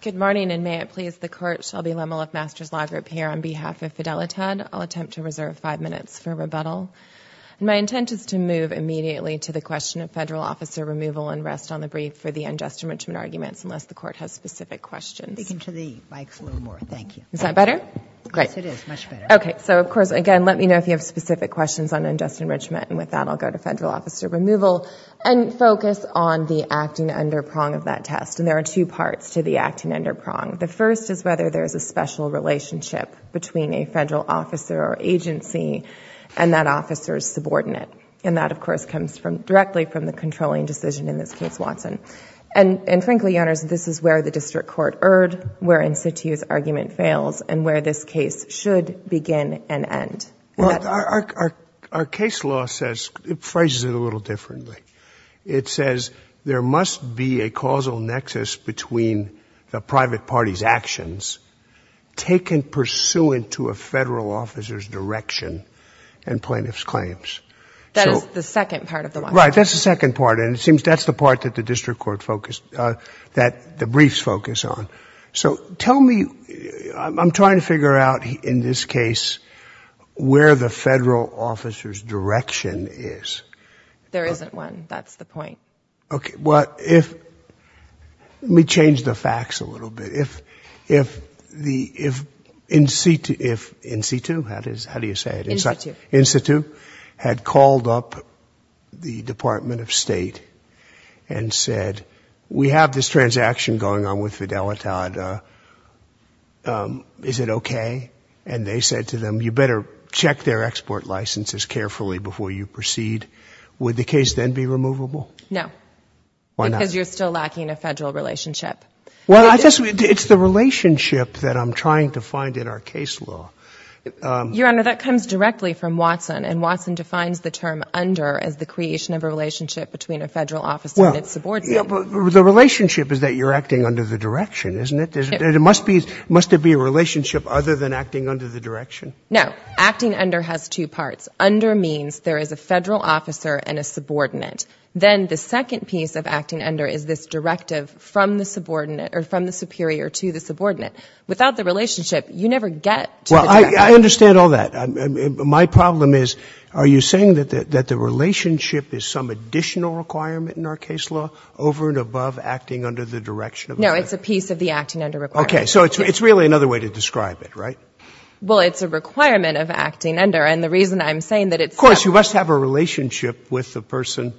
Good morning, and may it please the Court, Shelby Lemel of Masters Law Group here on behalf of Fidelitad. I'll attempt to reserve five minutes for rebuttal. My intent is to move immediately to the question of federal officer removal and rest on the brief for the unjust enrichment arguments unless the Court has specific questions. Speak into the mics a little more, thank you. Is that better? Great. Yes, it is. Much better. Okay. So, of course, again, let me know if you have specific questions on unjust enrichment. And with that, I'll go to federal officer removal and focus on the acting under prong of that test. And there are two parts to the acting under prong. The first is whether there's a special relationship between a federal officer or agency and that officer's subordinate. And that, of course, comes directly from the controlling decision in this case, Watson. And frankly, Your Honors, this is where the district court erred, where Insitu's argument fails, and where this case should begin and end. Well, our case law says, it phrases it a little differently. It says, there must be a causal nexus between the private party's actions taken pursuant to a federal officer's direction and plaintiff's claims. That is the second part of the one. Right. That's the second part. And it seems that's the part that the district court focused, that the briefs focus on. So tell me, I'm trying to figure out in this case where the federal officer's direction is. There isn't one. That's the point. Okay. Well, if, let me change the facts a little bit. If Insitu, how do you say it, Insitu, had called up the Department of State and said, we have this transaction going on with Fidelitad. Is it okay? And they said to them, you better check their export licenses carefully before you proceed. Would the case then be removable? No. Why not? Because you're still lacking a federal relationship. Well, I just, it's the relationship that I'm trying to find in our case law. Your Honor, that comes directly from Watson, and Watson defines the term under as the creation of a relationship between a federal officer and its subordinate. The relationship is that you're acting under the direction, isn't it? It must be, must there be a relationship other than acting under the direction? No. Acting under has two parts. Under means there is a federal officer and a subordinate. Then the second piece of acting under is this directive from the subordinate, or from the superior to the subordinate. Without the relationship, you never get to the directive. Well, I understand all that. My problem is, are you saying that the relationship is some additional requirement in our case law over and above acting under the direction of the federal officer? No. It's a piece of the acting under requirement. Okay. So, it's really another way to describe it, right? Well, it's a requirement of acting under, and the reason I'm saying that it's so. Of course. You must have a relationship with the person.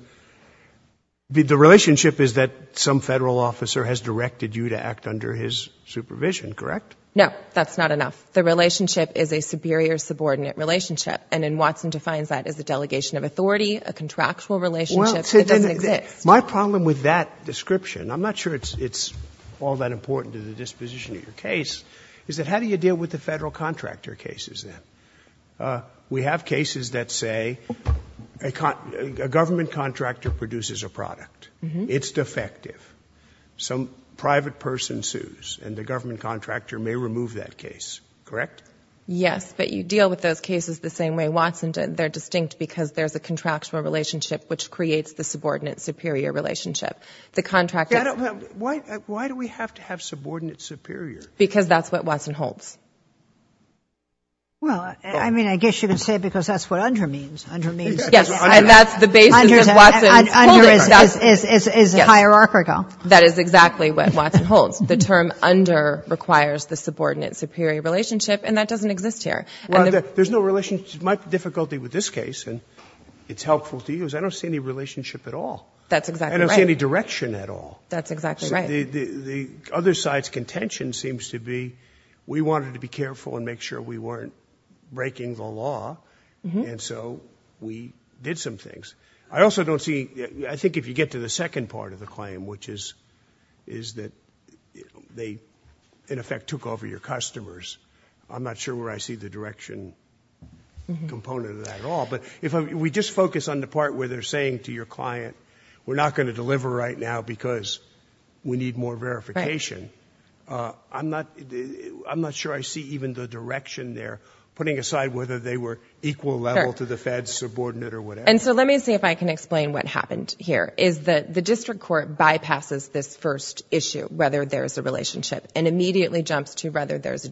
The relationship is that some federal officer has directed you to act under his supervision, correct? No. That's not enough. The relationship is a superior subordinate relationship, and then Watson defines that as a delegation of authority, a contractual relationship that doesn't exist. My problem with that description, I'm not sure it's all that important to the disposition of your case, is that how do you deal with the federal contractor cases then? We have cases that say a government contractor produces a product. It's defective. Some private person sues, and the government contractor may remove that case, correct? Yes, but you deal with those cases the same way Watson did. They're distinct because there's a contractual relationship which creates the subordinate superior relationship. The contractor — Why do we have to have subordinate superior? Because that's what Watson holds. Well, I mean, I guess you could say because that's what under means. Under means — Yes, and that's the basis of Watson's holdings. Under is a hierarchical. That is exactly what Watson holds. The term under requires the subordinate superior relationship, and that doesn't exist here. Well, there's no relationship — my difficulty with this case, and it's helpful to you, is I don't see any relationship at all. That's exactly right. I don't see any direction at all. That's exactly right. The other side's contention seems to be we wanted to be careful and make sure we weren't breaking the law, and so we did some things. I also don't see — I think if you get to the second part of the claim, which is that they, in effect, took over your customers, I'm not sure where I see the direction component of that at all. But if we just focus on the part where they're saying to your client, we're not going to deliver right now because we need more verification, I'm not sure I see even the direction there, putting aside whether they were equal level to the feds, subordinate, or whatever. And so let me see if I can explain what happened here, is that the district court bypasses this first issue, whether there's a relationship, and immediately jumps to whether there's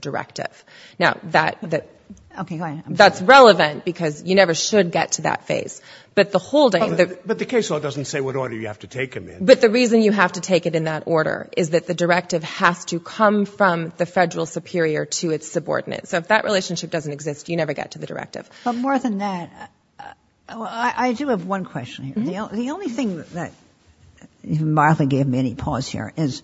Now, that — Okay, go ahead. That's relevant because you never should get to that phase. But the holding — But the case law doesn't say what order you have to take them in. But the reason you have to take it in that order is that the directive has to come from the federal superior to its subordinate. So if that relationship doesn't exist, you never get to the directive. But more than that, I do have one question here. The only thing that — if Martha gave me any pause here — is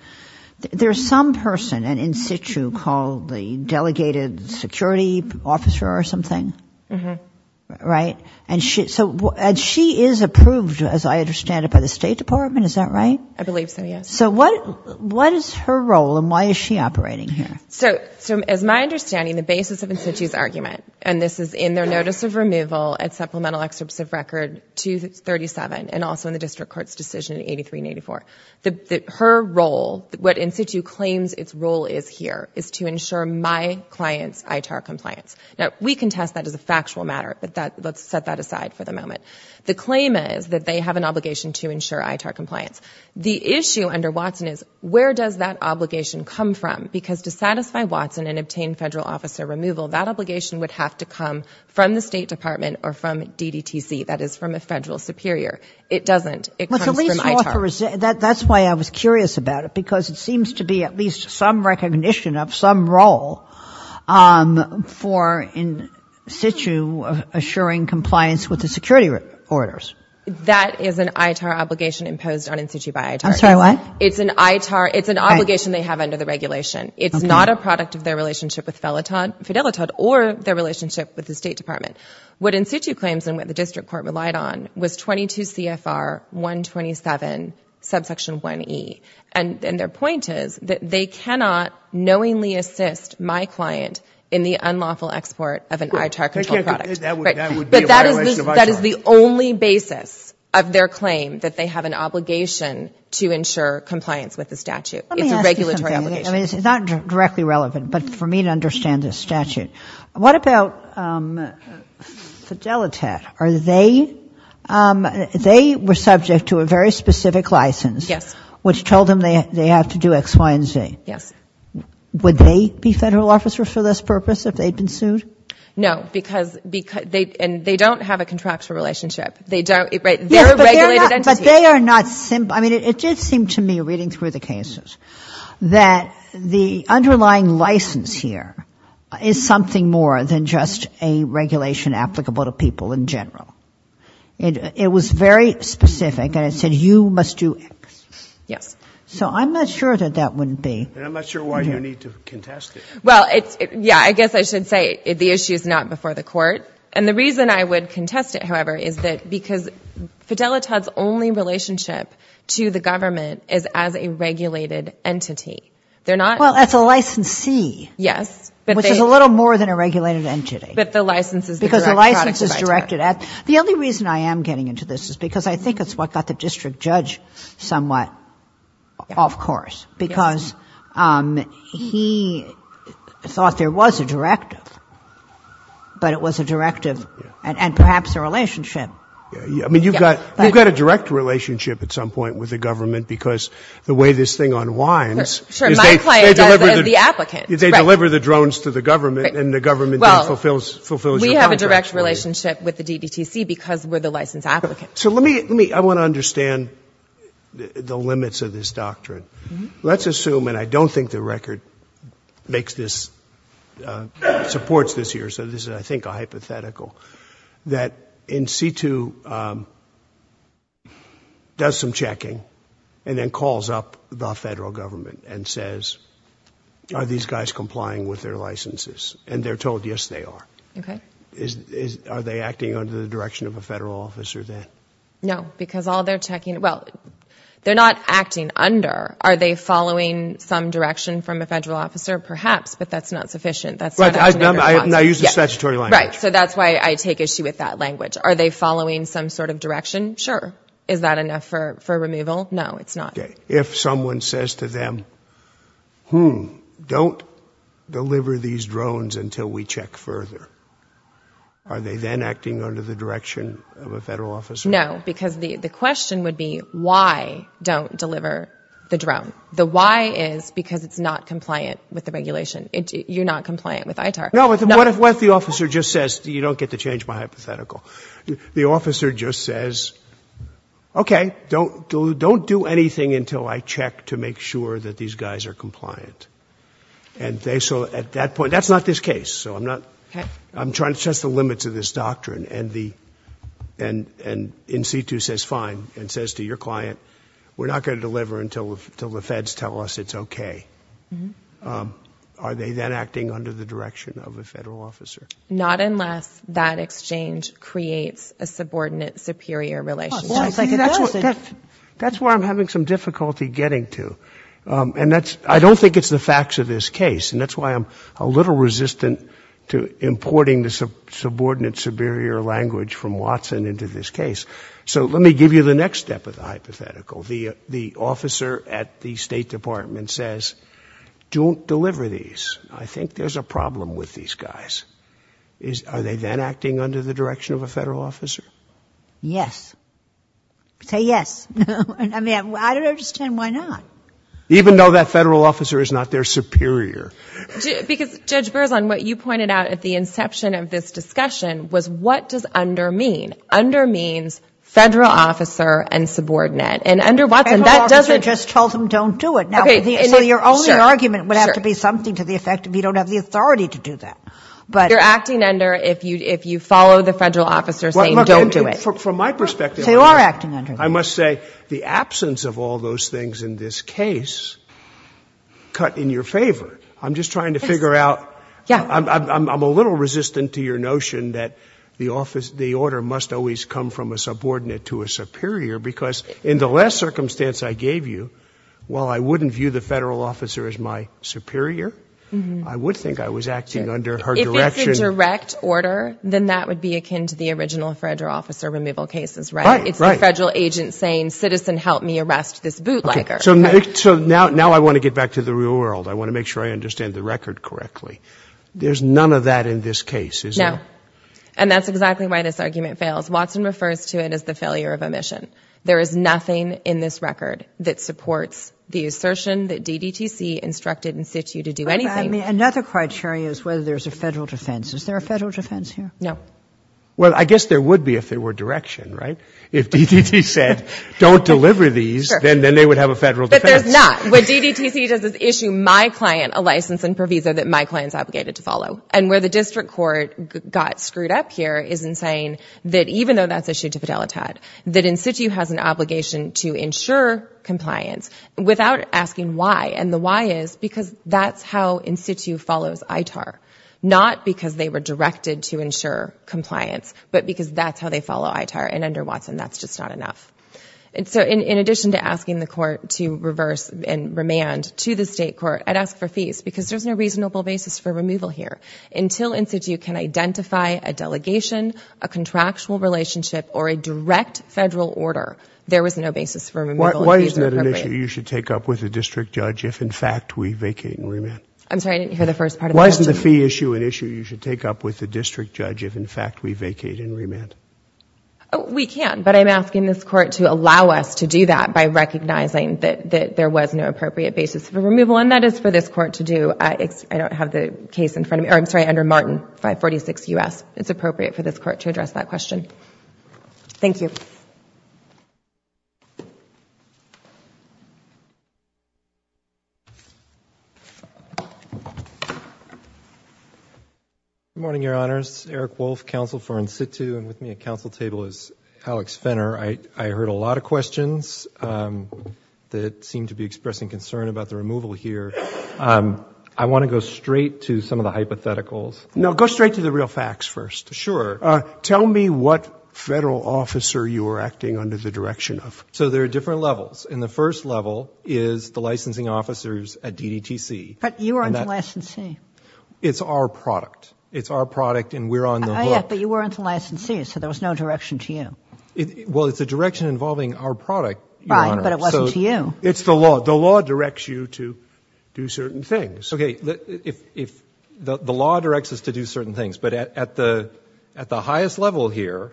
there's some person in In-Situ called the delegated security officer or something, right? And she is approved, as I understand it, by the State Department, is that right? I believe so, yes. So what is her role, and why is she operating here? So as my understanding, the basis of In-Situ's argument — and this is in their notice of removal at supplemental excerpts of record 237, and also in the district court's decision in 83 and 84 — her role, what In-Situ claims its role is here, is to ensure my client's ITAR compliance. Now, we can test that as a factual matter, but let's set that aside for the moment. The claim is that they have an obligation to ensure ITAR compliance. The issue under Watson is, where does that obligation come from? Because to satisfy Watson and obtain federal officer removal, that obligation would have to come from the State Department or from DDTC, that is, from a federal superior. It doesn't. It comes from ITAR. Well, that's why I was curious about it, because it seems to be at least some recognition of some role for In-Situ assuring compliance with the security orders. That is an ITAR obligation imposed on In-Situ by ITAR. I'm sorry, what? It's an ITAR — it's an obligation they have under the regulation. It's not a product of their relationship with Fidelitad or their relationship with the State Department. What In-Situ claims and what the district court relied on was 22 CFR 127, subsection 1E, and their point is that they cannot knowingly assist my client in the unlawful export of an ITAR-controlled product. That would be a violation of ITAR. Right. But that is the only basis of their claim, that they have an obligation to ensure compliance with the statute. It's a regulatory obligation. Let me ask you something. I mean, it's not directly relevant, but for me to understand this statute. What about Fidelitad? Are they — they were subject to a very specific license, which told them they have to do X, Y, and Z. Yes. Would they be federal officers for this purpose if they'd been sued? No, because — and they don't have a contractual relationship. They don't — they're a regulated entity. But they are not — I mean, it did seem to me, reading through the cases, that the underlying license here is something more than just a regulation applicable to people in general. It was very specific, and it said you must do X. Yes. So I'm not sure that that wouldn't be. And I'm not sure why you need to contest it. Well, it's — yeah, I guess I should say the issue is not before the court. And the reason I would contest it, however, is that — because Fidelitad's only relationship to the government is as a regulated entity. They're not — Well, as a licensee. Yes. But they — Which is a little more than a regulated entity. But the license is the direct product of Fidelitad. Because the license is directed at — the only reason I am getting into this is because I think it's what got the district judge somewhat off course, because he thought there was a directive, but it was a directive and perhaps a relationship. Yeah. I mean, you've got — you've got a direct relationship at some point with the government because the way this thing unwinds — Sure. My client does it as the applicant. Right. They deliver the drones to the government and the government then fulfills your contract. Well, we have a direct relationship with the DDTC because we're the licensed applicant. So let me — I want to understand the limits of this doctrine. Let's assume — and I don't think the record makes this — supports this here, so this is, I think, a hypothetical — that in situ does some checking and then calls up the Federal Government and says, are these guys complying with their licenses? And they're told, yes, they are. Okay. Are they acting under the direction of a federal officer then? No, because all they're checking — well, they're not acting under. Are they following some direction from a federal officer? Perhaps, but that's not sufficient. That's not actually the response. Right. I use the statutory language. Right. So that's why I take issue with that language. Are they following some sort of direction? Sure. Is that enough for removal? No, it's not. Okay. If someone says to them, hmm, don't deliver these drones until we check further, are they then acting under the direction of a federal officer? No, because the question would be, why don't deliver the drone? The why is because it's not compliant with the regulation. You're not compliant with ITAR. No, but what if the officer just says — you don't get to change my hypothetical — the Don't do anything until I check to make sure that these guys are compliant. And so at that point — that's not this case, so I'm not — I'm trying to test the limits of this doctrine. And the — and in situ says, fine, and says to your client, we're not going to deliver until the feds tell us it's okay. Are they then acting under the direction of a federal officer? Not unless that exchange creates a subordinate-superior relationship. That's why I'm having some difficulty getting to. And that's — I don't think it's the facts of this case, and that's why I'm a little resistant to importing the subordinate-superior language from Watson into this case. So let me give you the next step of the hypothetical. The officer at the State Department says, don't deliver these. I think there's a problem with these guys. Are they then acting under the direction of a federal officer? Yes. Say yes. I mean, I don't understand why not. Even though that federal officer is not their superior. Because Judge Berzon, what you pointed out at the inception of this discussion was what does under mean? Under means federal officer and subordinate. And under Watson, that doesn't — Federal officer just told them don't do it. Now — Okay. Sure. So your only argument would have to be something to the effect of you don't have the authority to do that. But — No, no, no, no, no. You don't have the authority to say don't do it. From my perspective — So you are acting under that. I must say, the absence of all those things in this case cut in your favor. Yes. I'm just trying to figure out — Yeah. I'm a little resistant to your notion that the order must always come from a subordinate to a superior, because in the last circumstance I gave you, while I wouldn't view the federal officer as my superior, I would think I was acting under her direction — Right. Right. It's a federal agent saying, citizen, help me arrest this bootlegger. Okay. So now I want to get back to the real world. I want to make sure I understand the record correctly. There's none of that in this case, is there? No. And that's exactly why this argument fails. Watson refers to it as the failure of omission. There is nothing in this record that supports the assertion that DDTC instructed and set you to do anything — I mean, another criteria is whether there's a federal defense. Is there a federal defense here? No. Well, I guess there would be if there were direction, right? If DDTC said, don't deliver these, then they would have a federal defense. But there's not. What DDTC does is issue my client a license and proviso that my client's obligated to follow. And where the district court got screwed up here is in saying that even though that's issued to Fidelitat, that in situ has an obligation to ensure compliance without asking why. And the why is because that's how in situ follows ITAR, not because they were directed to ensure compliance, but because that's how they follow ITAR. And under Watson, that's just not enough. And so in addition to asking the court to reverse and remand to the state court, I'd ask for fees, because there's no reasonable basis for removal here. Until in situ can identify a delegation, a contractual relationship, or a direct federal order, there was no basis for removal. Why isn't that an issue you should take up with the district judge if in fact we vacate and remand? I'm sorry, I didn't hear the first part of the question. Why isn't the fee issue an issue you should take up with the district judge if in fact we vacate and remand? We can, but I'm asking this court to allow us to do that by recognizing that there was no appropriate basis for removal, and that is for this court to do. I don't have the case in front of me, or I'm sorry, under Martin, 546 U.S. It's appropriate for this court to address that question. Thank you. Good morning, Your Honors. Eric Wolff, counsel for in situ, and with me at counsel table is Alex Fenner. I heard a lot of questions that seem to be expressing concern about the removal here. I want to go straight to some of the hypotheticals. No, go straight to the real facts first. Sure. Tell me what Federal officer you are acting under the direction of. So there are different levels. And the first level is the licensing officers at DDTC. But you weren't a licensee. It's our product. It's our product, and we're on the hook. Oh, yeah, but you weren't a licensee, so there was no direction to you. Well, it's a direction involving our product, Your Honor. Right, but it wasn't to you. It's the law. The law directs you to do certain things. Okay, the law directs us to do certain things. But at the highest level here,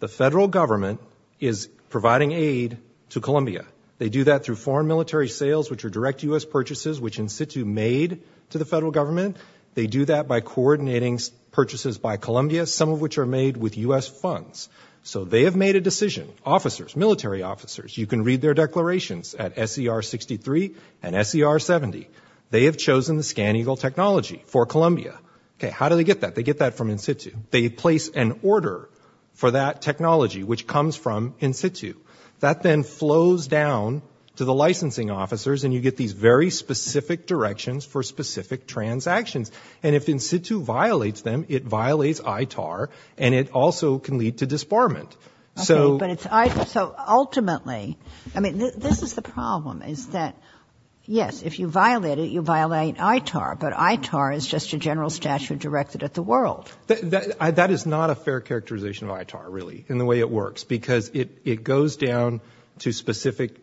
the Federal Government is providing aid to Columbia. They do that through foreign military sales, which are direct U.S. purchases, which in situ made to the Federal Government. They do that by coordinating purchases by Columbia, some of which are made with U.S. funds. So they have made a decision, officers, military officers. You can read their declarations at SER 63 and SER 70. They have chosen the ScanEagle technology for Columbia. Okay, how do they get that? They get that from in situ. They place an order for that technology, which comes from in situ. That then flows down to the licensing officers, and you get these very specific directions for specific transactions. And if in situ violates them, it violates ITAR, and it also can lead to disbarment. So ultimately, I mean, this is the problem, is that, yes, if you violate it, you violate ITAR, but ITAR is just a general statute directed at the world. That is not a fair characterization of ITAR, really, in the way it works, because it goes down to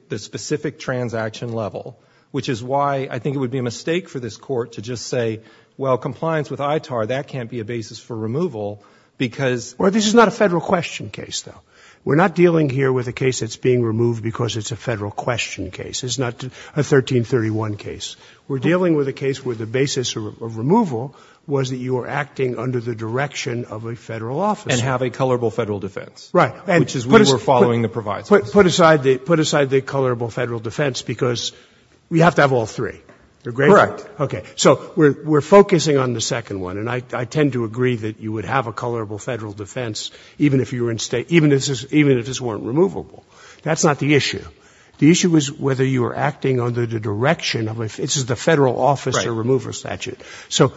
the specific transaction level, which is why I think it would be a mistake for this court to just say, well, compliance with ITAR, that can't be a basis for removal, because Well, this is not a federal question case, though. We're not dealing here with a case that's being removed because it's a federal question case. It's not a 1331 case. We're dealing with a case where the basis of removal was that you were acting under the direction of a federal office. And have a colorable federal defense. Right. Which is we were following the provisos. Put aside the colorable federal defense, because we have to have all three. Correct. Okay. So we're focusing on the second one, and I tend to agree that you would have a colorable federal defense even if you were in state, even if this weren't removable. That's not the issue. The issue is whether you were acting under the direction of, this is the federal officer remover statute. So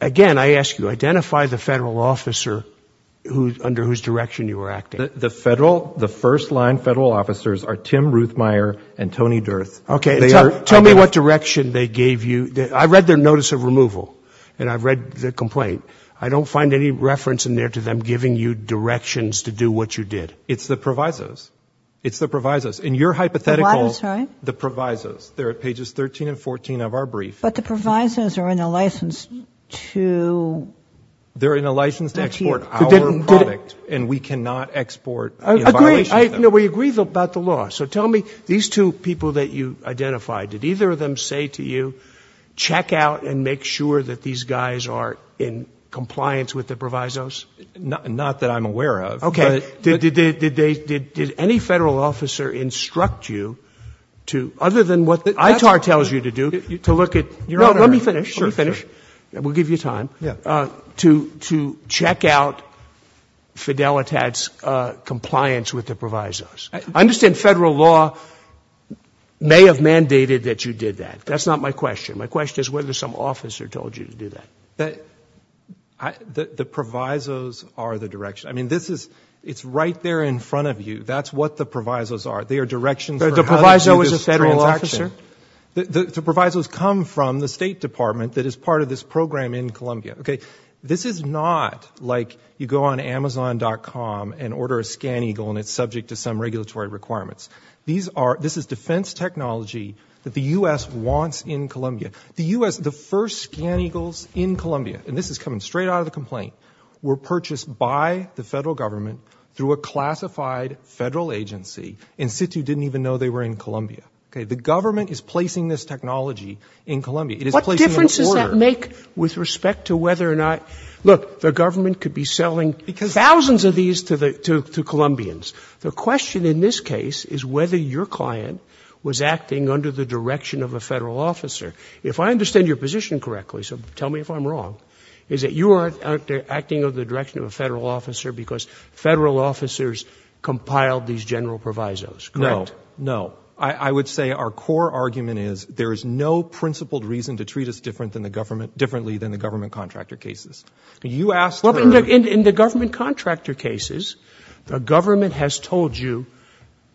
again, I ask you, identify the federal officer under whose direction you were acting. The federal, the first line federal officers are Tim Ruthmeyer and Tony Durth. Okay. Tell me what direction they gave you. I read their notice of removal, and I've read the complaint. I don't find any reference in there to them giving you directions to do what you did. It's the provisos. It's the provisos. In your hypothetical. I'm sorry. The provisos. They're at pages 13 and 14 of our brief. But the provisos are in a license to. They're in a license to export our product, and we cannot export in violation of that. I agree. No, we agree about the law. So tell me, these two people that you identified, did either of them say to you, check out and make sure that these guys are in compliance with the provisos? Not that I'm aware of. Okay. But. Did any federal officer instruct you to, other than what ITAR tells you to do, to look at. Your Honor. No, let me finish. Let me finish. We'll give you time. Yeah. To check out Fidelitat's compliance with the provisos. I understand federal law may have mandated that you did that. That's not my question. My question is whether some officer told you to do that. The provisos are the direction. I mean, this is, it's right there in front of you. That's what the provisos are. They are directions for how to do this transaction. The proviso is a federal officer? The provisos come from the State Department that is part of this program in Columbia. Okay. This is not like you go on Amazon.com and order a ScanEagle and it's subject to some regulatory requirements. These are, this is defense technology that the U.S. wants in Columbia. The U.S., the first ScanEagles in Columbia, and this is coming straight out of the complaint, were purchased by the federal government through a classified federal agency and SITU didn't even know they were in Columbia. Okay. The government is placing this technology in Columbia. It is placing it in order. What difference does that make with respect to whether or not, look, the government could be selling thousands of these to the, to, to Columbians. The question in this case is whether your client was acting under the direction of a federal officer. If I understand your position correctly, so tell me if I'm wrong, is that you aren't acting under the direction of a federal officer because federal officers compiled these general provisos, correct? No. No. I would say our core argument is there is no principled reason to treat us different than the government, differently than the government contractor cases. You asked for. In, in, in the government contractor cases, the government has told you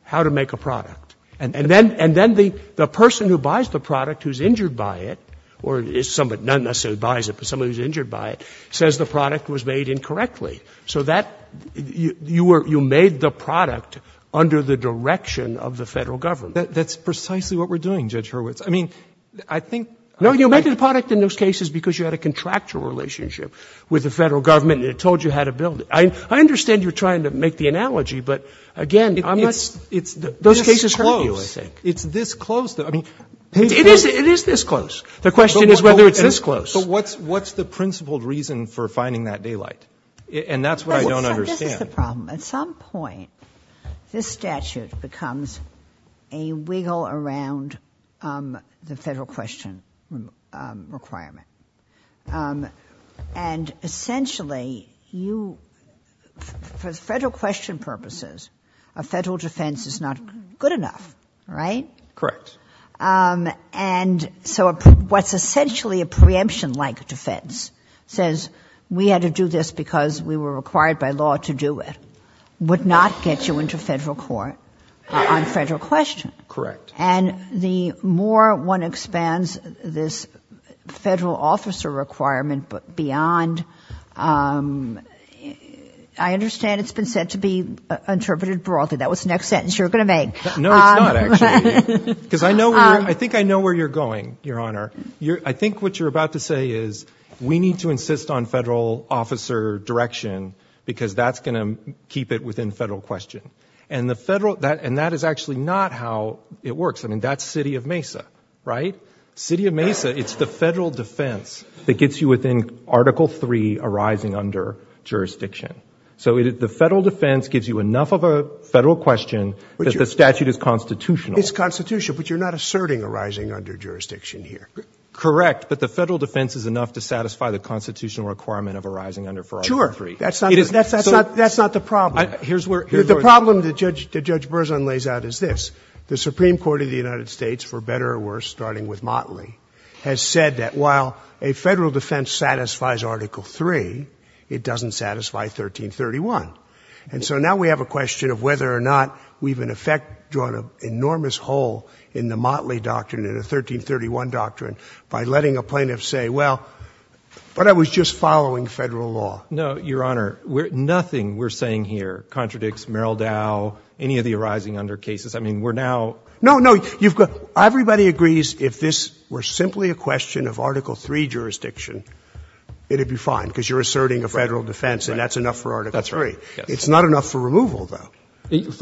how to make a product and, and then, and then the, the person who buys the product who's injured by it or is somebody, not necessarily buys it, but somebody who's injured by it says the product was made incorrectly. So that you, you were, you made the product under the direction of the federal government. That's precisely what we're doing, Judge Hurwitz. I mean, I think. No, you made the product in those cases because you had a contractor relationship with the federal government and it told you how to build it. I, I understand you're trying to make the analogy, but again, I'm not, it's, those cases hurt you, I think. It's this close. I mean. It is, it is this close. The question is whether it's this close. But what's, what's the principled reason for finding that daylight? And that's what I don't understand. This is the problem. At some point, this statute becomes a wiggle around, um, the federal question, um, requirement. Um, and essentially you, for federal question purposes, a federal defense is not good enough, right? Correct. Um, and so what's essentially a preemption like defense says we had to do this because we were required by law to do it, would not get you into federal court on federal question. Correct. And the more one expands this federal officer requirement beyond, um, I understand it's been said to be interpreted broadly. That was the next sentence you're going to make. No, it's not actually. Because I know, I think I know where you're going, Your Honor. I think what you're about to say is we need to insist on federal officer direction because that's going to keep it within federal question and the federal that, and that is actually not how it works. I mean, that's city of Mesa, right? City of Mesa. It's the federal defense that gets you within article three arising under jurisdiction. So the federal defense gives you enough of a federal question that the statute is constitutional. It's constitutional, but you're not asserting arising under jurisdiction here. Correct. But the federal defense is enough to satisfy the constitutional requirement of arising under for article three. Sure. That's not, that's not, that's not the problem. Here's where the problem that Judge, Judge Berzon lays out is this, the Supreme Court of the United States for better or worse, starting with Motley has said that while a federal defense satisfies article three, it doesn't satisfy 1331. And so now we have a question of whether or not we've in effect drawn an enormous hole in the Motley doctrine, in a 1331 doctrine by letting a plaintiff say, well, but I was just following federal law. No, your honor, we're nothing we're saying here contradicts Merrill Dow, any of the arising under cases. I mean, we're now, no, no, you've got, everybody agrees. If this were simply a question of article three jurisdiction, it'd be fine because you're asserting a federal defense and that's enough for article three. It's not enough for removal though.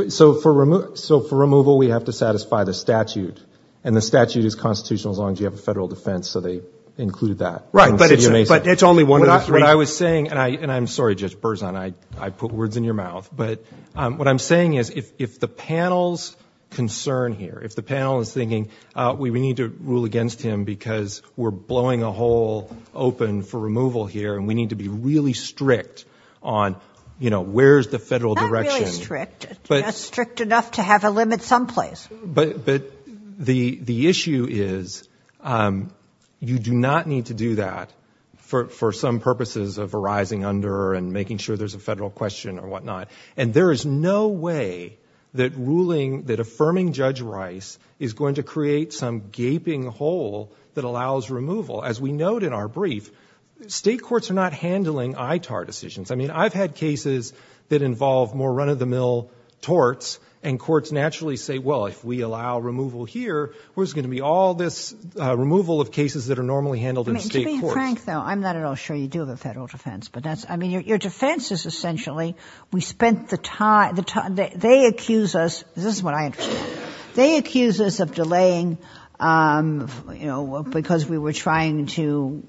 So for removal, so for removal, we have to satisfy the statute and the statute is constitutional as long as you have a federal defense. So they included that. Right. But it's only one of the three. What I was saying, and I, and I'm sorry, Judge Berzon, I, I put words in your mouth, but what I'm saying is if, if the panel's concern here, if the panel is thinking we, we need to rule against him because we're blowing a hole open for removal here and we need to be really strict on, you know, where's the federal direction. It's not strict. It's not strict enough to have a limit someplace. But, but the, the issue is you do not need to do that for, for some purposes of arising under and making sure there's a federal question or whatnot. And there is no way that ruling, that affirming Judge Rice is going to create some gaping hole that allows removal. As we note in our brief, state courts are not handling ITAR decisions. I mean, I've had cases that involve more run-of-the-mill torts and courts naturally say, well, if we allow removal here, where's it going to be all this removal of cases that are normally handled in state courts. I mean, to be frank though, I'm not at all sure you do have a federal defense, but that's, I mean, your, your defense is essentially, we spent the time, the time, they, they accuse us, this is what I, they accuse us of delaying, you know, because we were trying to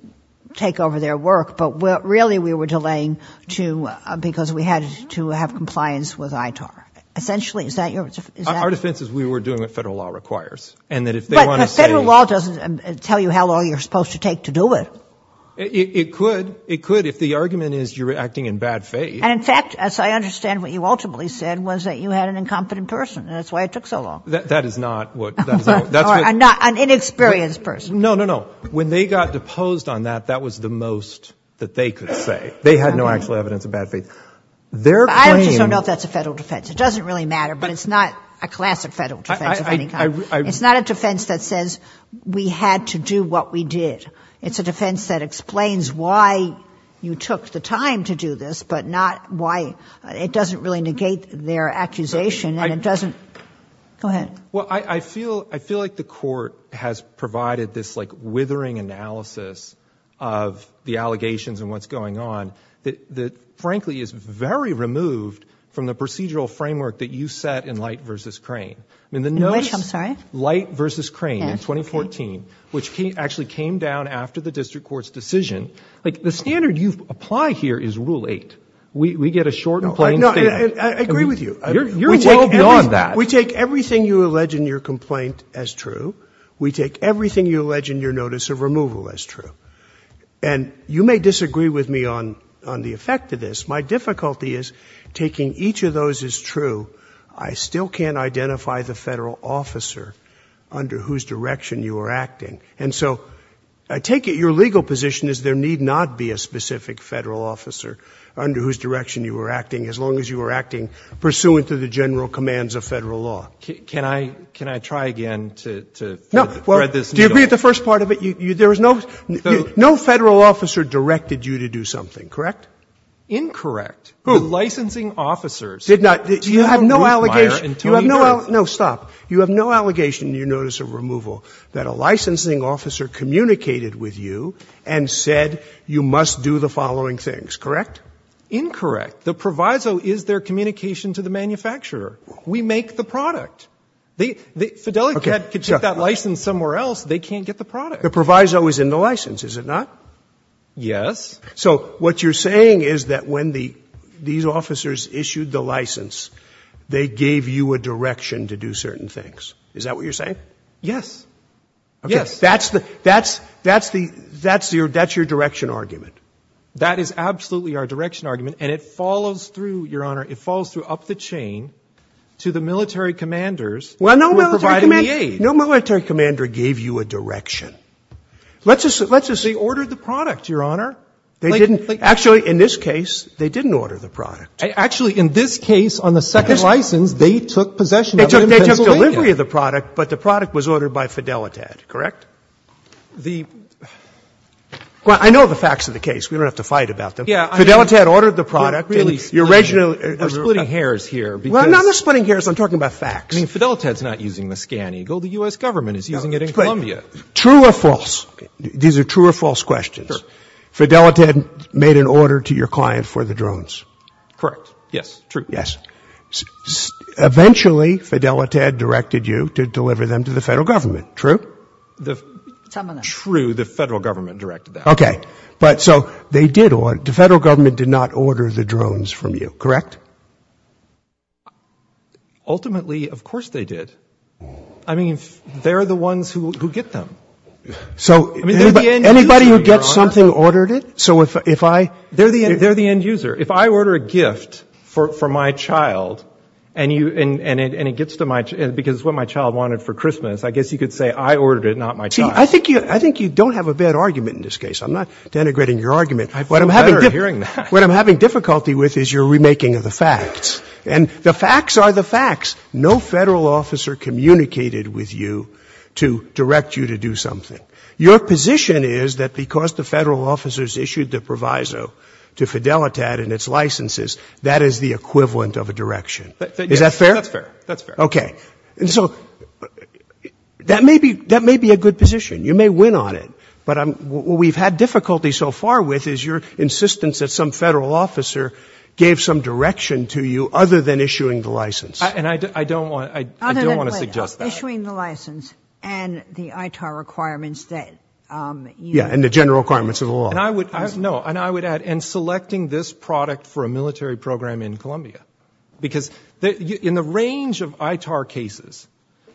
take over their work, but we're really, we were delaying to, because we had to have compliance with ITAR. Essentially. Is that your, is that? Our defense is we were doing what federal law requires. And that if they want to say. But federal law doesn't tell you how long you're supposed to take to do it. It could. It could. If the argument is you're acting in bad faith. And in fact, as I understand, what you ultimately said was that you had an incompetent person and that's why it took so long. That is not what, that's what. Or an inexperienced person. No, no, no. When they got deposed on that, that was the most that they could say. They had no actual evidence of bad faith. Their claim. I just don't know if that's a federal defense. It doesn't really matter, but it's not a classic federal defense of any kind. It's not a defense that says we had to do what we did. It's a defense that explains why you took the time to do this, but not why it doesn't really negate their accusation and it doesn't, go ahead. Well, I feel, I feel like the court has provided this like withering analysis of the allegations and what's going on that, that frankly is very removed from the procedural framework that you set in Light v. Crane. In which, I'm sorry? Light v. Crane in 2014, which actually came down after the district court's decision. Like the standard you apply here is rule eight. We get a short and plain statement. I agree with you. You're well beyond that. We take everything you allege in your complaint as true. We take everything you allege in your notice of removal as true. And you may disagree with me on, on the effect of this. My difficulty is taking each of those as true, I still can't identify the federal officer under whose direction you are acting. And so I take it your legal position is there need not be a specific federal officer under whose direction you were acting as long as you were acting pursuant to the general commands of Federal law. Can I, can I try again to, to thread this needle? No. Do you agree with the first part of it? There was no, no Federal officer directed you to do something, correct? Incorrect. Who? Licensing officers. Did not. You have no allegation. You have no, no, stop. You have no allegation in your notice of removal that a licensing officer communicated with you and said you must do the following things, correct? Incorrect. The proviso is their communication to the manufacturer. We make the product. They, they, Fidelicat could take that license somewhere else, they can't get the product. The proviso is in the license, is it not? Yes. So what you're saying is that when the, these officers issued the license, they gave you a direction to do certain things. Is that what you're saying? Yes. Yes. That's the, that's, that's the, that's your, that's your direction argument. That is absolutely our direction argument and it follows through, Your Honor, it follows through up the chain. To the military commanders who were providing the aid. Well, no military commander, no military commander gave you a direction. Let's just, let's just. They ordered the product, Your Honor. They didn't, actually, in this case, they didn't order the product. Actually, in this case, on the second license, they took possession of it in Pennsylvania. They took, they took delivery of the product, but the product was ordered by Fidelicat, correct? The. Well, I know the facts of the case. We don't have to fight about them. Yeah. Fidelicat ordered the product. Really. Your original. We're splitting hairs here. Well, no, they're splitting hairs. I'm talking about facts. I mean, Fidelicat's not using the ScanEagle. The U.S. government is using it in Columbia. True or false? These are true or false questions. Fidelicat made an order to your client for the drones. Correct. Yes. True. Yes. Eventually, Fidelicat directed you to deliver them to the federal government. True. The. True. The federal government directed that. Okay. But so they did, the federal government did not order the drones from you. Correct? Ultimately, of course they did. I mean, they're the ones who get them. So anybody who gets something ordered it. So if I. They're the end user. If I order a gift for my child and it gets to my, because it's what my child wanted for Christmas. I guess you could say I ordered it, not my child. See, I think you don't have a bad argument in this case. I'm not denigrating your argument. I feel better hearing that. What I'm having difficulty with is your remaking of the facts. And the facts are the facts. No federal officer communicated with you to direct you to do something. Your position is that because the federal officers issued the proviso to Fidelicat and its licenses, that is the equivalent of a direction. Is that fair? That's fair. That's fair. Okay. And so that may be, that may be a good position. You may win on it. But what we've had difficulty so far with is your insistence that some federal officer gave some direction to you other than issuing the license. And I don't want to suggest that. Other than issuing the license and the ITAR requirements that you. Yeah, and the general requirements of the law. And I would, no, and I would add in selecting this product for a military program in Columbia. Because in the range of ITAR cases,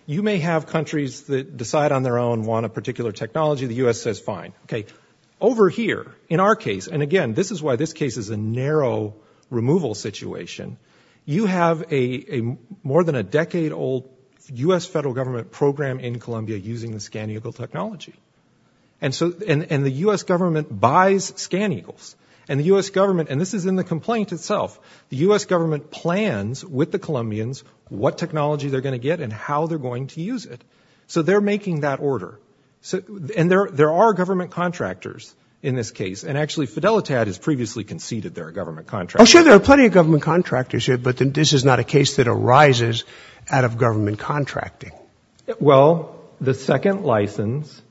you may have countries that decide on their own, want a particular technology, the U.S. says fine. Okay. Over here, in our case, and again, this is why this case is a narrow removal situation. You have a more than a decade old U.S. federal government program in Columbia using the ScanEagle technology. And so, and the U.S. government buys ScanEagles. And the U.S. government, and this is in the complaint itself, the U.S. government plans with the Colombians what technology they're going to get and how they're going to use it. So, they're making that order. So, and there are government contractors in this case. And actually, Fidelitad has previously conceded they're a government contractor. Oh, sure, there are plenty of government contractors here. But this is not a case that arises out of government contracting. Well, the second license,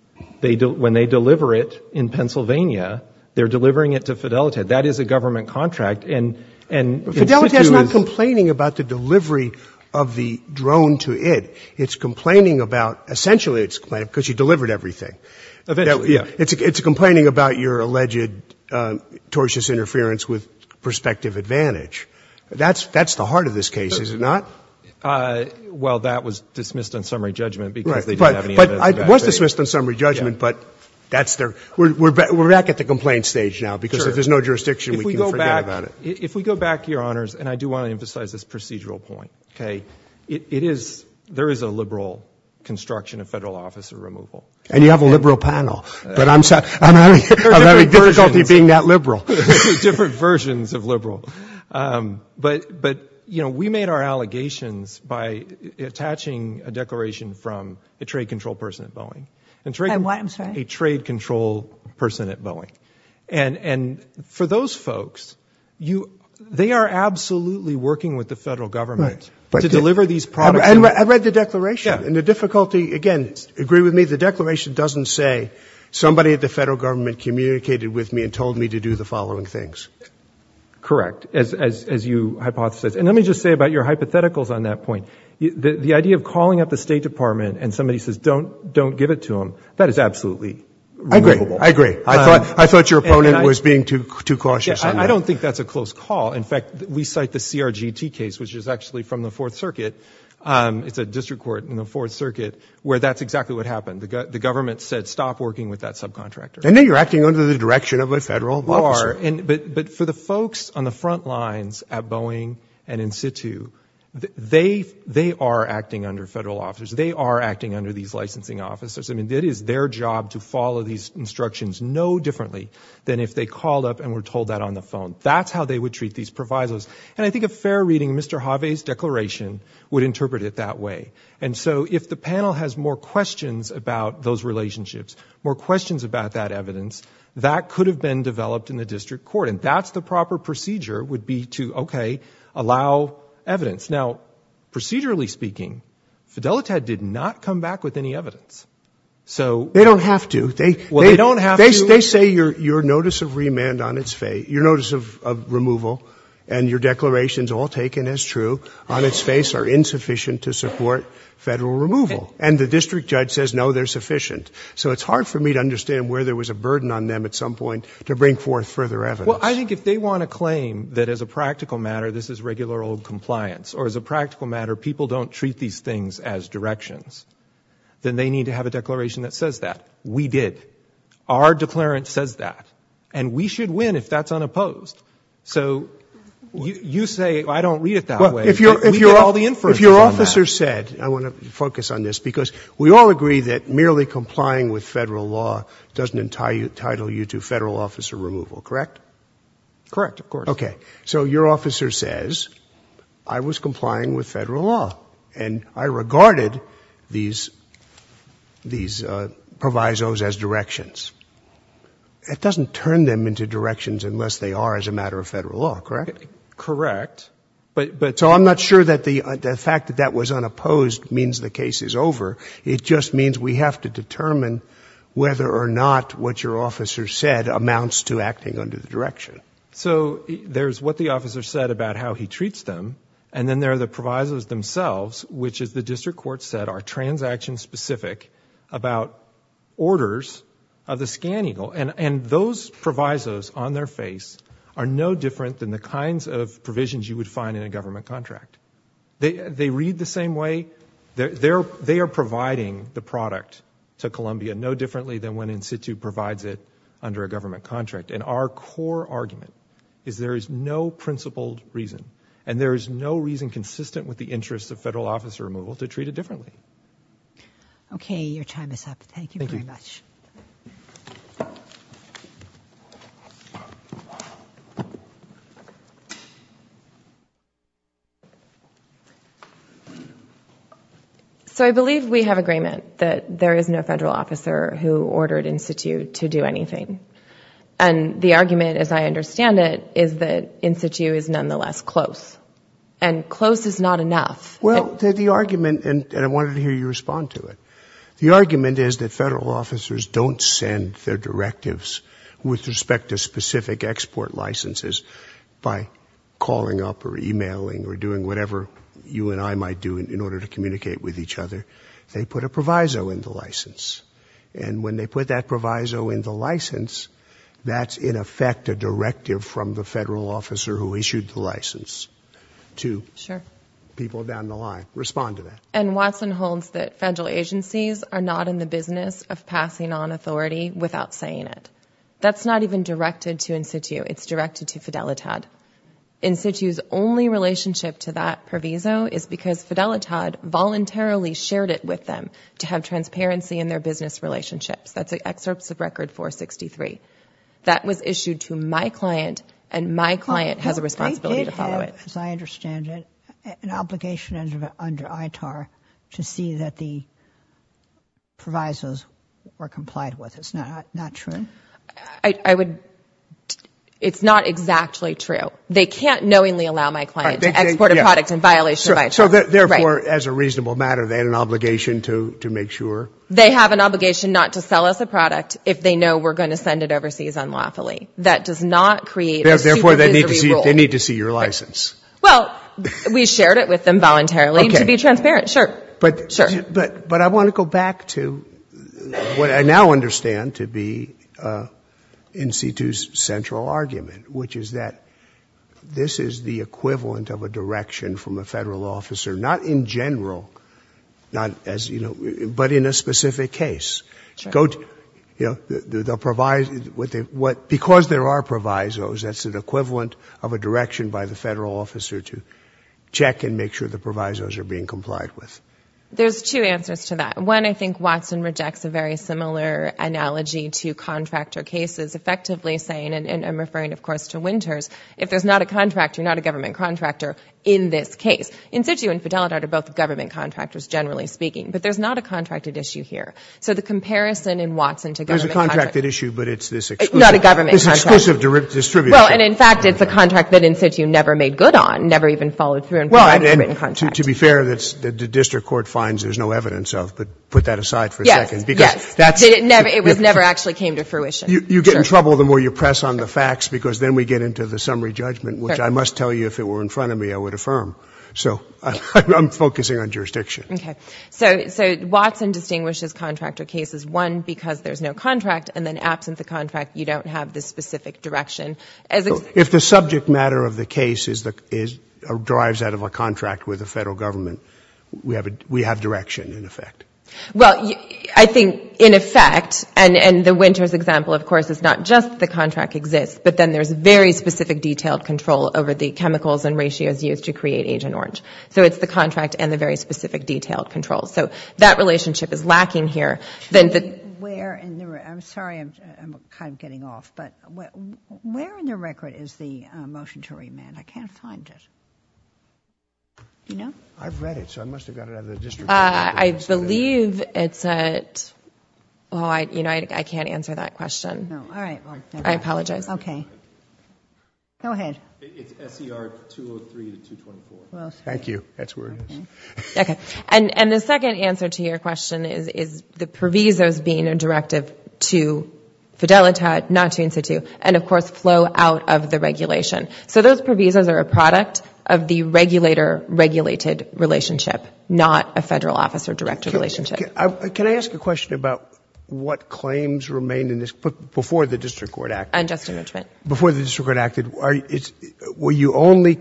when they deliver it in Pennsylvania, they're delivering it to Fidelitad. That is a government contract. And, and, Fidelitad's not complaining about the delivery of the drone to it. It's complaining about, essentially it's complaining because you delivered everything. Eventually, yeah. It's complaining about your alleged tortious interference with prospective advantage. That's, that's the heart of this case, is it not? Well, that was dismissed on summary judgment because they didn't have any evidence of that. It was dismissed on summary judgment, but that's their, we're back at the complaint stage now. Because if there's no jurisdiction, we can forget about it. If we go back, if we go back, Your Honors, and I do want to emphasize this procedural point, okay? It, it is, there is a liberal construction of federal officer removal. And you have a liberal panel, but I'm sorry, I'm having difficulty being that liberal. Different versions of liberal. But, but, you know, we made our allegations by attaching a declaration from a trade control person at Boeing. And trade. And what, I'm sorry? A trade control person at Boeing. And, and for those folks, you, they are absolutely working with the federal government. Right. To deliver these products. I read the declaration. Yeah. And the difficulty, again, agree with me, the declaration doesn't say somebody at the federal government communicated with me and told me to do the following things. Correct. As, as, as you hypothesize. And let me just say about your hypotheticals on that point. The, the idea of calling up the State Department and somebody says, don't, don't give it to them. That is absolutely. I agree. I agree. I thought, I thought your opponent was being too, too cautious. I don't think that's a close call. In fact, we cite the CRGT case, which is actually from the fourth circuit. It's a district court in the fourth circuit where that's exactly what happened. The, the government said, stop working with that subcontractor. And then you're acting under the direction of a federal officer. You are. And, but, but for the folks on the front lines at Boeing and in situ, they, they are acting under federal officers. They are acting under these licensing officers. I mean, it is their job to follow these instructions no differently than if they called up and were told that on the phone. That's how they would treat these provisos. And I think a fair reading of Mr. Hawe's declaration would interpret it that way. And so if the panel has more questions about those relationships, more questions about that evidence, that could have been developed in the district court. And that's the proper procedure would be to, okay, allow evidence. Now, procedurally speaking, Fidelitad did not come back with any evidence. So. They don't have to. They, they don't have to. They, they say your, your notice of remand on its face, your notice of, of removal and your declarations all taken as true on its face are insufficient to support federal removal. And the district judge says, no, they're sufficient. So it's hard for me to understand where there was a burden on them at some point to bring forth further evidence. Well, I think if they want to claim that as a practical matter, this is regular old compliance. Or as a practical matter, people don't treat these things as directions. Then they need to have a declaration that says that. We did. Our declarant says that. And we should win if that's unopposed. So, you, you say, I don't read it that way. We get all the inferences on that. If your officer said, I want to focus on this, because we all agree that merely complying with federal law doesn't entitle you to federal officer removal, correct? Correct, of course. Okay. So your officer says, I was complying with federal law. And I regarded these, these provisos as directions. It doesn't turn them into directions unless they are as a matter of federal law, correct? Correct. But, but. So I'm not sure that the fact that that was unopposed means the case is over. It just means we have to determine whether or not what your officer said amounts to acting under the direction. So there's what the officer said about how he treats them. And then there are the provisos themselves, which as the district court said, are transaction specific about orders of the ScanEagle. And, and those provisos on their face are no different than the kinds of provisions you would find in a government contract. They, they read the same way. They're, they're, they are providing the product to Columbia no differently than when in situ provides it under a government contract. And our core argument is there is no principled reason. And there is no reason consistent with the interest of federal officer removal to treat it differently. Okay, your time is up. Thank you very much. Thank you. So I believe we have agreement that there is no federal officer who ordered in situ to do anything. And the argument, as I understand it, is that in situ is nonetheless close. And close is not enough. Well, the, the argument, and, and I wanted to hear you respond to it. The argument is that federal officers don't send their directives with respect to specific export licenses. By calling up or emailing or doing whatever you and I might do in, in order to communicate with each other. They put a proviso in the license. And when they put that proviso in the license, that's in effect a directive from the federal officer who issued the license. To. Sure. People down the line. Respond to that. And Watson holds that federal agencies are not in the business of passing on authority without saying it. That's not even directed to in situ, it's directed to Fidelitad. In situ's only relationship to that proviso is because Fidelitad voluntarily shared it with them. To have transparency in their business relationships. That's the excerpts of record 463. That was issued to my client, and my client has a responsibility to follow it. As I understand it, an obligation under ITAR to see that the provisos were complied with. It's not, not true. I, I would, it's not exactly true. They can't knowingly allow my client to export a product in violation of ITAR. So therefore, as a reasonable matter, they had an obligation to, to make sure. They have an obligation not to sell us a product if they know we're going to send it overseas unlawfully. That does not create a supervisory role. Therefore, they need to see, they need to see your license. Well, we shared it with them voluntarily. Okay. To be transparent. Sure. But. Sure. But, but I want to go back to what I now understand to be in situ's central argument. Which is that this is the equivalent of a direction from a federal officer. Not in general. Not as, you know, but in a specific case. Go to, you know, the, the provis, what they, what, because there are provisos, that's an equivalent of a direction by the federal officer to check and make sure the provisos are being complied with. There's two answers to that. One, I think Watson rejects a very similar analogy to contractor cases. Effectively saying, and, and I'm referring, of course, to Winters. If there's not a contractor, not a government contractor in this case. In situ and Fidelity are both government contractors, generally speaking. But there's not a contracted issue here. So the comparison in Watson to government. There's a contracted issue, but it's this exclusive. Not a government contract. It's exclusive to distributors. Well, and in fact, it's a contract that in situ never made good on. Never even followed through on. Well, and to, to be fair, that's, that the district court finds there's no evidence of. But put that aside for a second. Yes, yes. Because that's. It never, it was never actually came to fruition. You, you get in trouble the more you press on the facts. Because then we get into the summary judgment. Which I must tell you if it were in front of me, I would affirm. So, I'm, I'm focusing on jurisdiction. Okay. So, so Watson distinguishes contractor cases. One, because there's no contract. And then absent the contract, you don't have the specific direction. As a. If the subject matter of the case is the, is, drives out of a contract with the federal government. We have a, we have direction in effect. Well, I think in effect, and, and the Winters example, of course, is not just the contract exists. But then there's very specific detailed control over the chemicals and ratios used to create Agent Orange. So, it's the contract and the very specific detailed control. So, that relationship is lacking here. Then the. Where in the, I'm sorry, I'm, I'm kind of getting off. But where in the record is the motion to remand? I can't find it. Do you know? I've read it. So, I must have got it out of the district. I believe it's a, well, I, you know, I, I can't answer that question. No, all right. I apologize. Okay. Go ahead. It's SER 203 to 224. Thank you. That's where it is. Okay. And, and the second answer to your question is, is the provisos being a directive to Fidelita, not to Institute. And of course, flow out of the regulation. So, those provisos are a product of the regulator-regulated relationship, not a federal officer-directed relationship. Can I ask a question about what claims remained in this before the district court acted? Unjust enrichment. Before the district court acted, are, were you only,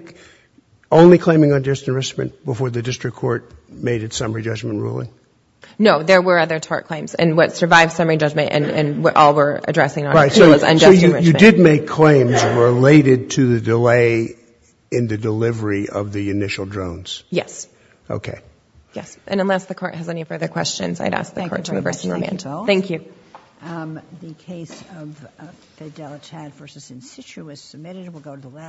only claiming unjust enrichment before the district court made its summary judgment ruling? No, there were other tort claims. And what survived summary judgment and, and what all we're addressing on here was unjust enrichment. You did make claims related to the delay in the delivery of the initial drones. Yes. Okay. Yes. And unless the court has any further questions, I'd ask the court to reverse the remand. Thank you. The case of Fidelitat versus Insitio is submitted. We'll go to the last.